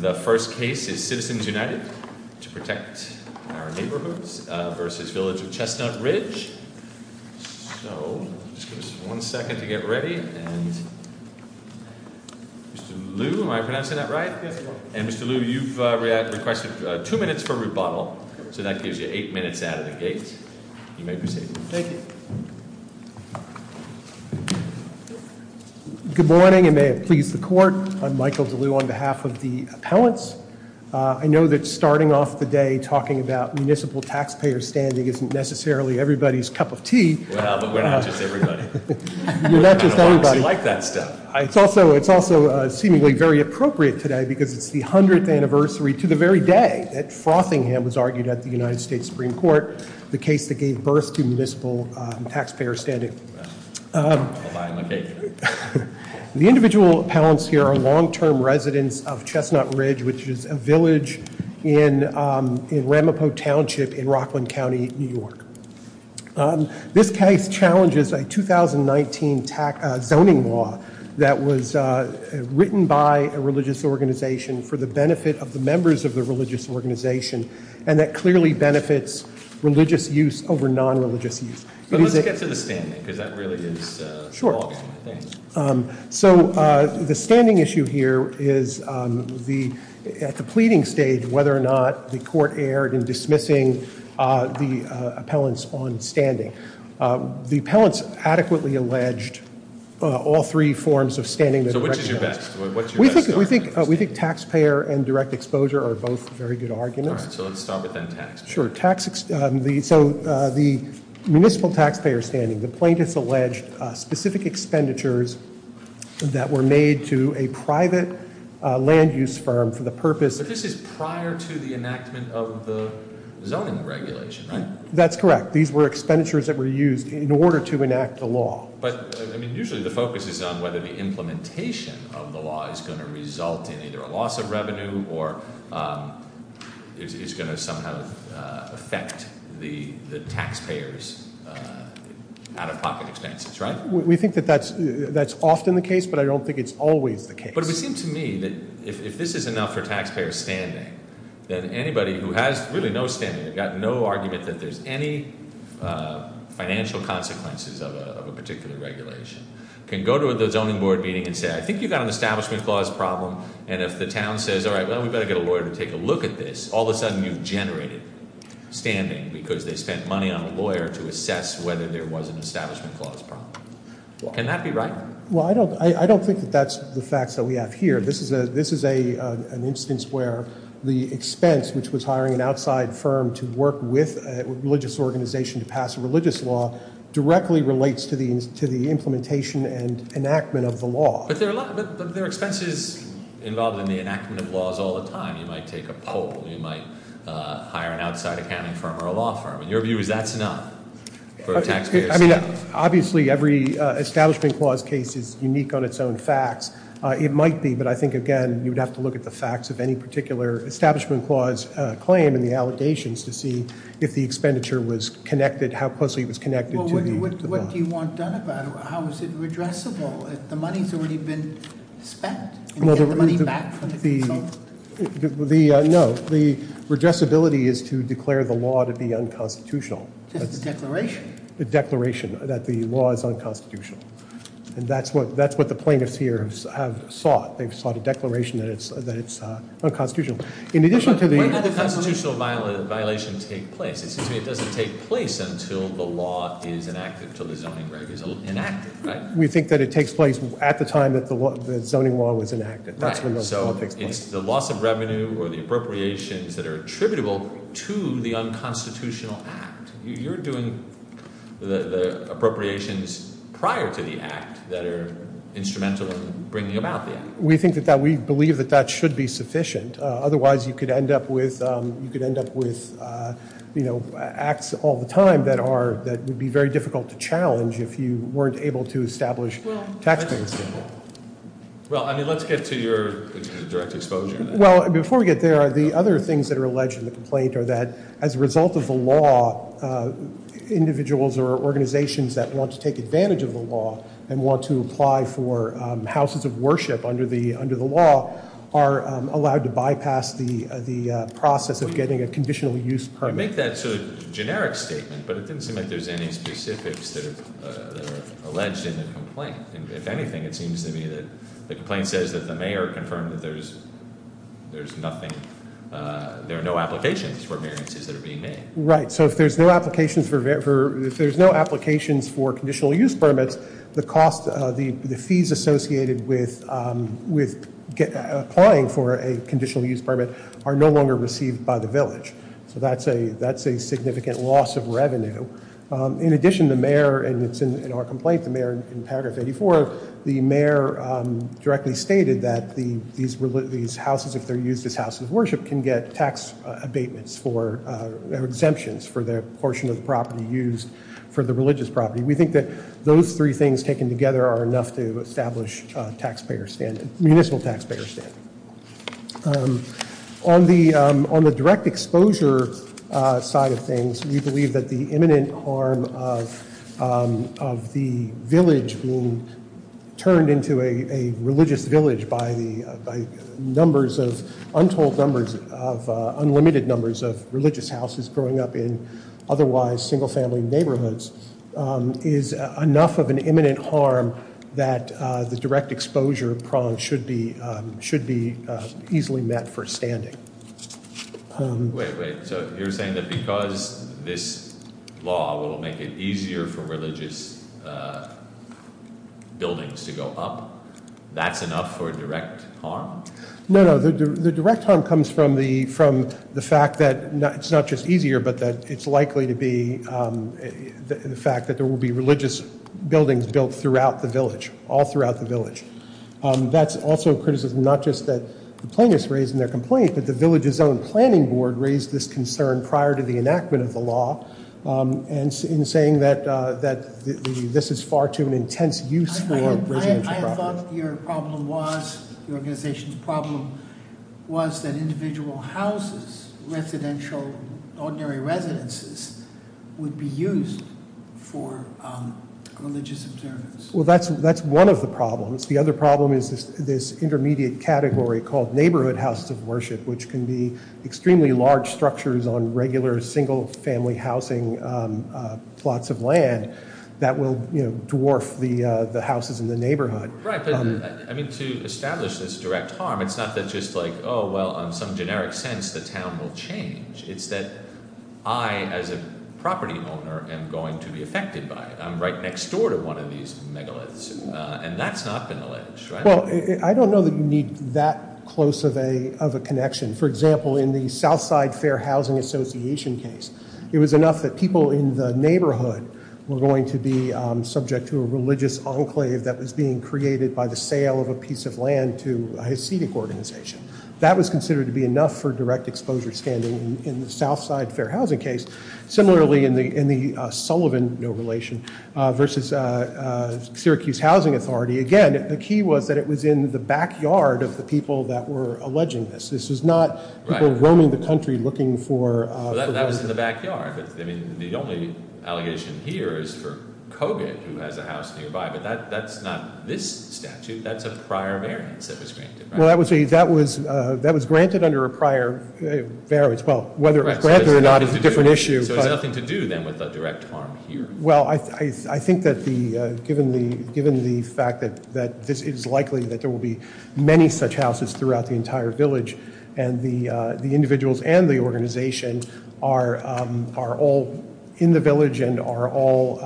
The first case is Citizens United To Protect Our Neighborhoods v. Village of Chestnut Ridge So, just give us one second to get ready and Mr. Liu, am I pronouncing that right? Yes, you are. And Mr. Liu, you've requested two minutes for rebuttal, so that gives you eight minutes out of the gate. You may proceed. Thank you. Good morning, and may it please the Court. I'm Michael DeLue on behalf of the appellants. I know that starting off the day talking about municipal taxpayer standing isn't necessarily everybody's cup of tea. Well, but we're not just everybody. We're not just everybody. I like that stuff. It's also seemingly very appropriate today because it's the 100th anniversary to the very day that Frothingham was argued at the United States Supreme Court. The case that gave birth to municipal taxpayer standing. I'll buy him a cake. The individual appellants here are long-term residents of Chestnut Ridge, which is a village in Ramapo Township in Rockland County, New York. This case challenges a 2019 zoning law that was written by a religious organization for the benefit of the members of the religious organization and that clearly benefits religious use over non-religious use. But let's get to the standing, because that really is the ballgame, I think. Sure. So the standing issue here is at the pleading stage whether or not the court erred in dismissing the appellants on standing. The appellants adequately alleged all three forms of standing. We think taxpayer and direct exposure are both very good arguments. All right. So let's start with then tax. Sure. So the municipal taxpayer standing, the plaintiffs alleged specific expenditures that were made to a private land use firm for the purpose- But this is prior to the enactment of the zoning regulation, right? That's correct. These were expenditures that were used in order to enact the law. But usually the focus is on whether the implementation of the law is going to result in either a loss of revenue or is going to somehow affect the taxpayers' out-of-pocket expenses, right? We think that that's often the case, but I don't think it's always the case. But it would seem to me that if this is enough for taxpayer standing, then anybody who has really no standing, they've got no argument that there's any financial consequences of a particular regulation, can go to the zoning board meeting and say, I think you've got an establishment clause problem, and if the town says, all right, well, we better get a lawyer to take a look at this, all of a sudden you've generated standing because they spent money on a lawyer to assess whether there was an establishment clause problem. Can that be right? Well, I don't think that that's the facts that we have here. This is an instance where the expense, which was hiring an outside firm to work with a religious organization to pass a religious law, directly relates to the implementation and enactment of the law. But there are expenses involved in the enactment of laws all the time. You might take a poll. You might hire an outside accounting firm or a law firm. And your view is that's enough for taxpayer standing? I mean, obviously, every establishment clause case is unique on its own facts. It might be, but I think, again, you would have to look at the facts of any particular establishment clause claim and the allegations to see if the expenditure was connected, how closely it was connected to the law. Well, what do you want done about it? How is it redressable? The money's already been spent. You can get the money back from the consultant. No, the redressability is to declare the law to be unconstitutional. Just the declaration. The declaration that the law is unconstitutional. And that's what the plaintiffs here have sought. They've sought a declaration that it's unconstitutional. In addition to the- When did the constitutional violation take place? It seems to me it doesn't take place until the law is enacted, until the zoning right is enacted, right? We think that it takes place at the time that the zoning law was enacted. That's when the law takes place. So it's the loss of revenue or the appropriations that are attributable to the unconstitutional act. You're doing the appropriations prior to the act that are instrumental in bringing about the act. We believe that that should be sufficient. Otherwise, you could end up with acts all the time that would be very difficult to challenge if you weren't able to establish tax payers. Well, I mean, let's get to your direct exposure. Well, before we get there, the other things that are alleged in the complaint are that as a result of the law, individuals or organizations that want to take advantage of the law and want to apply for houses of worship under the law are allowed to bypass the process of getting a conditional use permit. I make that sort of generic statement, but it doesn't seem like there's any specifics that are alleged in the complaint. If anything, it seems to me that the complaint says that the mayor confirmed that there are no applications for variances that are being made. Right, so if there's no applications for conditional use permits, the fees associated with applying for a conditional use permit are no longer received by the village. So that's a significant loss of revenue. In addition, the mayor, and it's in our complaint, the mayor in paragraph 84, the mayor directly stated that these houses, if they're used as houses of worship, can get tax abatements or exemptions for their portion of the property used for the religious property. We think that those three things taken together are enough to establish municipal taxpayer standing. On the on the direct exposure side of things, we believe that the imminent harm of of the village being turned into a religious village by the numbers of untold numbers, of unlimited numbers of religious houses growing up in otherwise single family neighborhoods, is enough of an imminent harm that the direct exposure prong should be should be easily met for standing. Wait, wait, so you're saying that because this law will make it easier for religious buildings to go up, that's enough for direct harm? No, no, the direct harm comes from the fact that it's not just easier, but that it's likely to be the fact that there will be religious buildings built throughout the village, all throughout the village. That's also a criticism, not just that the plaintiffs raised in their complaint, but the village's own planning board raised this concern prior to the enactment of the law. And in saying that this is far too an intense use for residential properties. I thought your problem was, your organization's problem was that individual houses, residential, ordinary residences would be used for religious observance. Well, that's one of the problems. The other problem is this intermediate category called neighborhood houses of worship, which can be extremely large structures on regular single family housing plots of land that will dwarf the houses in the neighborhood. Right, but to establish this direct harm, it's not that just like, oh, well, on some generic sense, the town will change. It's that I, as a property owner, am going to be affected by it. I'm right next door to one of these megaliths, and that's not been alleged, right? Well, I don't know that you need that close of a connection. For example, in the Southside Fair Housing Association case, it was enough that people in the neighborhood were going to be subject to a religious enclave that was being created by the sale of a piece of land to a Hasidic organization. That was considered to be enough for direct exposure standing in the Southside Fair Housing case. Similarly, in the Sullivan, no relation, versus Syracuse Housing Authority, again, the key was that it was in the backyard of the people that were alleging this. This was not people roaming the country looking for— That was in the backyard. The only allegation here is for Kogut, who has a house nearby, but that's not this statute. That's a prior variance that was granted, right? Well, that was granted under a prior variance. Well, whether it was granted or not is a different issue. So it has nothing to do, then, with the direct harm here. Well, I think that given the fact that it is likely that there will be many such houses throughout the entire village, and the individuals and the organization are all in the village and all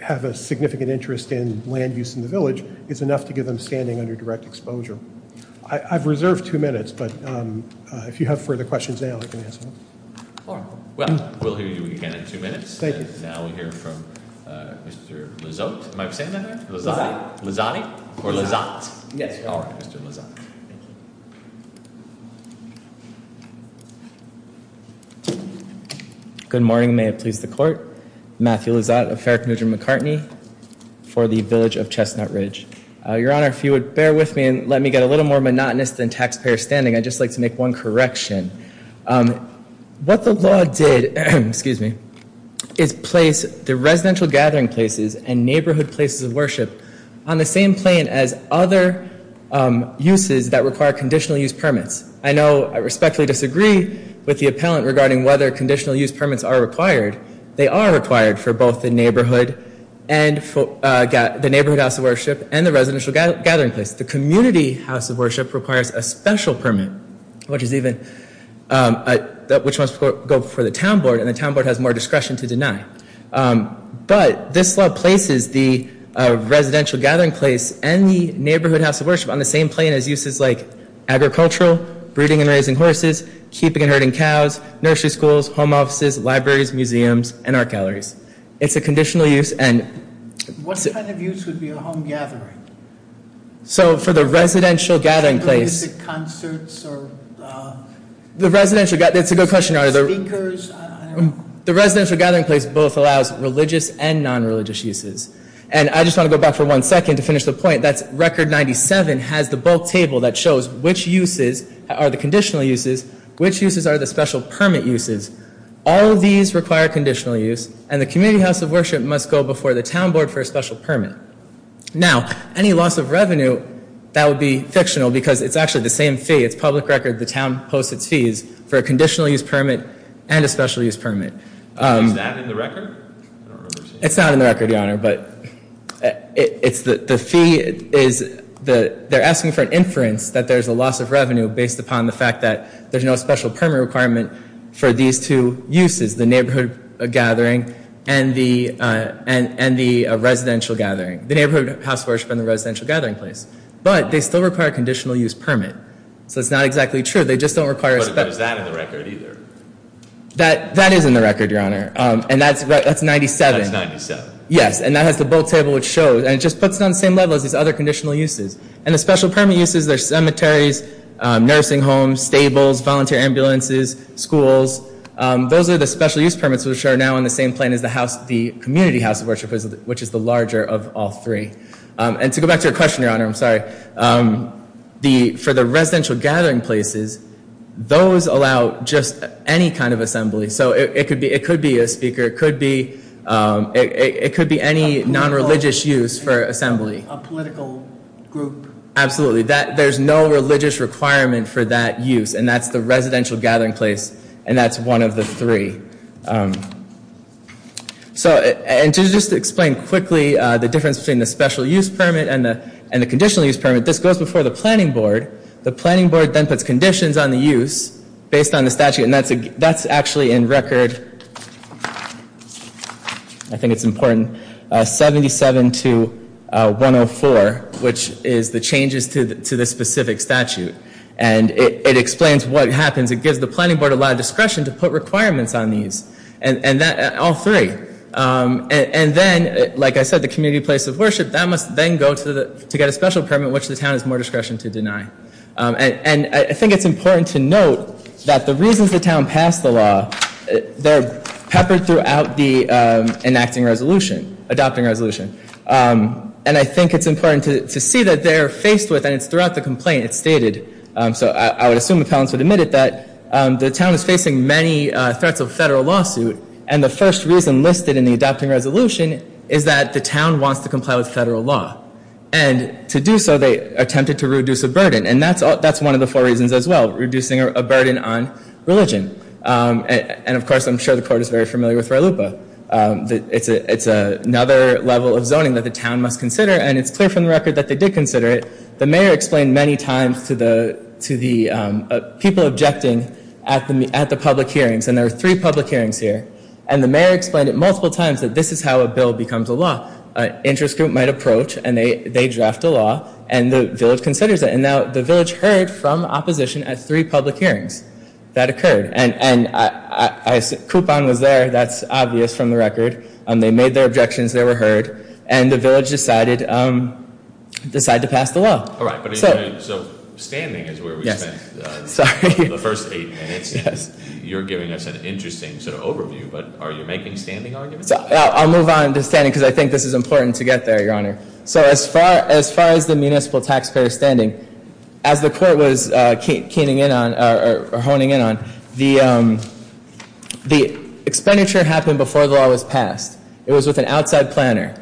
have a significant interest in land use in the village, it's enough to get them standing under direct exposure. I've reserved two minutes, but if you have further questions now, I can answer them. Well, we'll hear you again in two minutes. And now we'll hear from Mr. Lizotte. Am I saying that right? Lizotte. Lizotte? Or Lizotte? Yes. All right, Mr. Lizotte. Good morning. May it please the Court. Matthew Lizotte of Fair Commuter McCartney for the Village of Chestnut Ridge. Your Honor, if you would bear with me and let me get a little more monotonous than taxpayer standing, I'd just like to make one correction. What the law did is place the residential gathering places and neighborhood places of worship on the same plane as other uses that require conditional use permits. I know I respectfully disagree with the appellant regarding whether conditional use permits are required. They are required for both the neighborhood house of worship and the residential gathering place. The community house of worship requires a special permit, which must go before the town board, and the town board has more discretion to deny. But this law places the residential gathering place and the neighborhood house of worship on the same plane as uses like agricultural, breeding and raising horses, keeping and herding cows, nursery schools, home offices, libraries, museums, and art galleries. It's a conditional use. What kind of use would be a home gathering? So for the residential gathering place... Is it concerts or speakers? The residential gathering place both allows religious and non-religious uses. And I just want to go back for one second to finish the point. Record 97 has the bulk table that shows which uses are the conditional uses, which uses are the special permit uses. All of these require conditional use, and the community house of worship must go before the town board for a special permit. Now, any loss of revenue, that would be fictional because it's actually the same fee. It's public record. The town posts its fees for a conditional use permit and a special use permit. Is that in the record? It's not in the record, Your Honor. But the fee is that they're asking for an inference that there's a loss of revenue based upon the fact that there's no special permit requirement for these two uses, the neighborhood gathering and the residential gathering, the neighborhood house of worship and the residential gathering place. But they still require a conditional use permit. So it's not exactly true. They just don't require a special permit. But is that in the record either? That is in the record, Your Honor. And that's 97. That's 97. Yes, and that has the bulk table which shows. And it just puts it on the same level as these other conditional uses. And the special permit uses are cemeteries, nursing homes, stables, volunteer ambulances, schools. Those are the special use permits which are now on the same plane as the community house of worship, which is the larger of all three. And to go back to your question, Your Honor, I'm sorry. For the residential gathering places, those allow just any kind of assembly. So it could be a speaker. It could be any nonreligious use for assembly. A political group. Absolutely. There's no religious requirement for that use. And that's the residential gathering place, and that's one of the three. And to just explain quickly the difference between the special use permit and the conditional use permit, this goes before the planning board. The planning board then puts conditions on the use based on the statute, and that's actually in record. I think it's important. 77 to 104, which is the changes to the specific statute. And it explains what happens. It gives the planning board a lot of discretion to put requirements on these, all three. And then, like I said, the community place of worship, that must then go to get a special permit, which the town has more discretion to deny. And I think it's important to note that the reasons the town passed the law, they're peppered throughout the enacting resolution, adopting resolution. And I think it's important to see that they're faced with, and it's throughout the complaint, it's stated. So I would assume appellants would admit it, that the town is facing many threats of federal lawsuit, and the first reason listed in the adopting resolution is that the town wants to comply with federal law. And to do so, they attempted to reduce a burden. And that's one of the four reasons as well, reducing a burden on religion. And, of course, I'm sure the court is very familiar with Re Lupa. It's another level of zoning that the town must consider, and it's clear from the record that they did consider it. The mayor explained many times to the people objecting at the public hearings, and there were three public hearings here. And the mayor explained it multiple times, that this is how a bill becomes a law. An interest group might approach, and they draft a law, and the village considers it. And now the village heard from opposition at three public hearings that occurred. And coupon was there. That's obvious from the record. They made their objections. They were heard. And the village decided to pass the law. All right, so standing is where we spent the first eight minutes. You're giving us an interesting sort of overview, but are you making standing arguments? I'll move on to standing because I think this is important to get there, Your Honor. So as far as the municipal taxpayer standing, as the court was keening in on or honing in on, the expenditure happened before the law was passed. It was with an outside planner.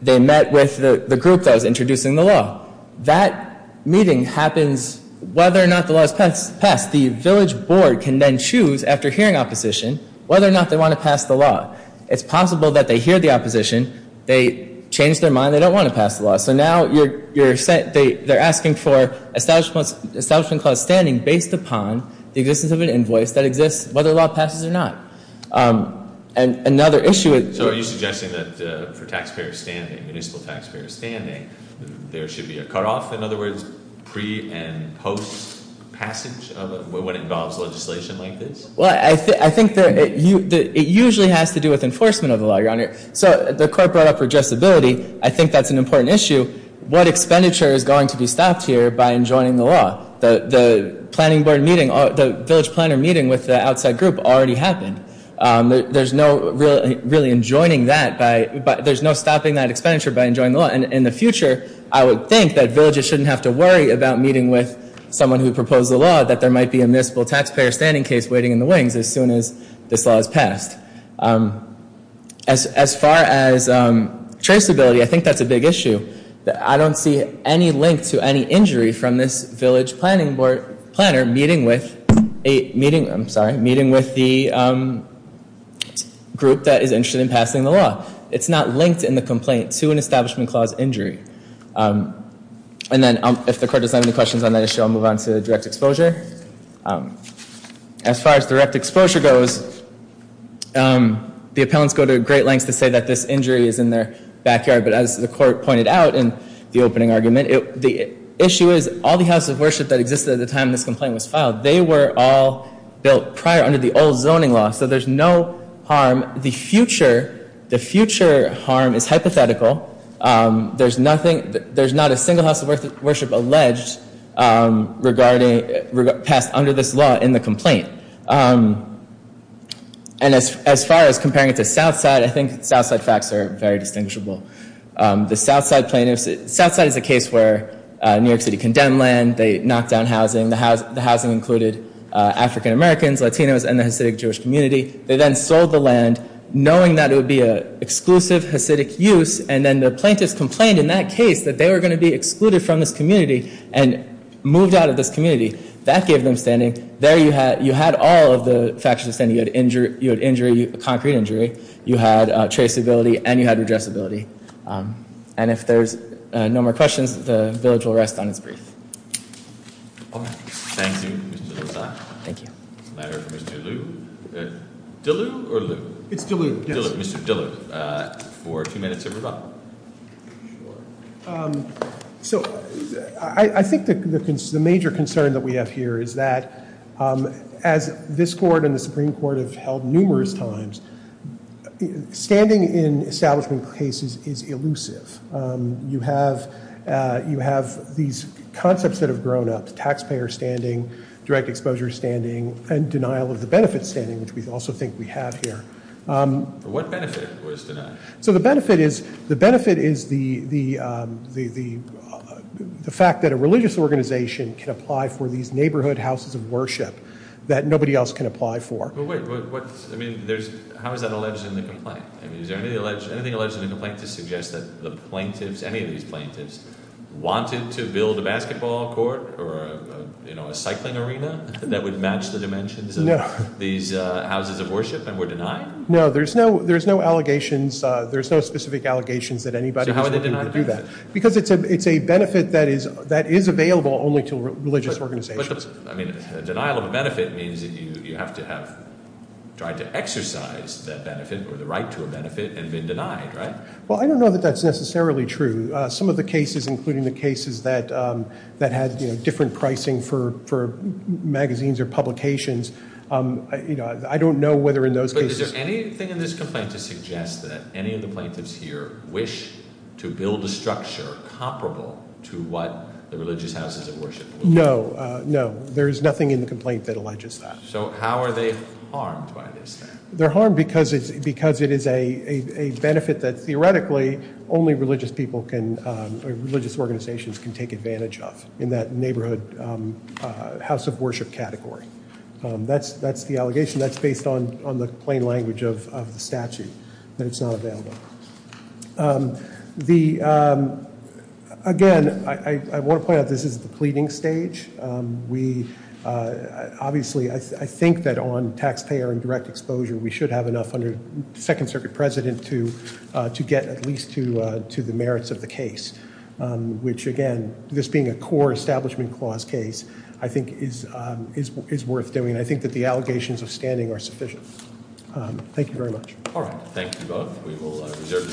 They met with the group that was introducing the law. That meeting happens whether or not the law is passed. The village board can then choose, after hearing opposition, whether or not they want to pass the law. It's possible that they hear the opposition. They change their mind. They don't want to pass the law. So now they're asking for establishment clause standing based upon the existence of an invoice that exists, whether the law passes or not. And another issue is- So are you suggesting that for taxpayer standing, municipal taxpayer standing, there should be a cutoff? In other words, pre and post passage of what involves legislation like this? Well, I think it usually has to do with enforcement of the law, Your Honor. So the court brought up redressability. I think that's an important issue. What expenditure is going to be stopped here by enjoining the law? The planning board meeting, the village planner meeting with the outside group already happened. There's no really enjoining that by- There's no stopping that expenditure by enjoining the law. And in the future, I would think that villages shouldn't have to worry about meeting with someone who proposed the law, that there might be a municipal taxpayer standing case waiting in the wings as soon as this law is passed. As far as traceability, I think that's a big issue. I don't see any link to any injury from this village planning board planner meeting with the group that is interested in passing the law. It's not linked in the complaint to an establishment clause injury. And then if the court doesn't have any questions on that issue, I'll move on to direct exposure. As far as direct exposure goes, the appellants go to great lengths to say that this injury is in their backyard. But as the court pointed out in the opening argument, the issue is all the houses of worship that existed at the time this complaint was filed, they were all built prior under the old zoning law. So there's no harm. The future harm is hypothetical. There's not a single house of worship alleged passed under this law in the complaint. And as far as comparing it to Southside, I think Southside facts are very distinguishable. The Southside plaintiffs, Southside is a case where New York City condemned land. They knocked down housing. The housing included African-Americans, Latinos, and the Hasidic Jewish community. They then sold the land, knowing that it would be an exclusive Hasidic use. And then the plaintiffs complained in that case that they were going to be excluded from this community and moved out of this community. That gave them standing. There you had all of the factors of standing. You had injury, concrete injury. You had traceability. And you had redressability. And if there's no more questions, the village will rest on its brief. All right. Thank you, Mr. Lozada. Thank you. It's a matter for Mr. Liu. Dillard or Liu? It's Dillard, yes. Mr. Dillard, for two minutes of your time. So, I think the major concern that we have here is that, as this court and the Supreme Court have held numerous times, standing in establishment cases is elusive. You have these concepts that have grown up. Taxpayer standing, direct exposure standing, and denial of the benefit standing, which we also think we have here. What benefit was denied? So, the benefit is the fact that a religious organization can apply for these neighborhood houses of worship that nobody else can apply for. Well, wait. How is that alleged in the complaint? I mean, is there anything alleged in the complaint to suggest that the plaintiffs, any of these plaintiffs, wanted to build a basketball court or a cycling arena that would match the dimensions of these houses of worship and were denied? No, there's no allegations. There's no specific allegations that anybody was willing to do that. So, how are they denied? Because it's a benefit that is available only to religious organizations. Denial of a benefit means that you have to have tried to exercise that benefit or the right to a benefit and been denied, right? Well, I don't know that that's necessarily true. Some of the cases, including the cases that had different pricing for magazines or publications, I don't know whether in those cases – But is there anything in this complaint to suggest that any of the plaintiffs here wish to build a structure comparable to what the religious houses of worship would be? No, no. There's nothing in the complaint that alleges that. So, how are they harmed by this then? They're harmed because it is a benefit that theoretically only religious people can – or religious organizations can take advantage of in that neighborhood house of worship category. That's the allegation. That's based on the plain language of the statute, that it's not available. Again, I want to point out this is the pleading stage. Obviously, I think that on taxpayer and direct exposure, we should have enough under the Second Circuit President to get at least to the merits of the case. Which, again, this being a core Establishment Clause case, I think is worth doing. I think that the allegations of standing are sufficient. Thank you very much. All right. Thank you both. We will reserve the stage.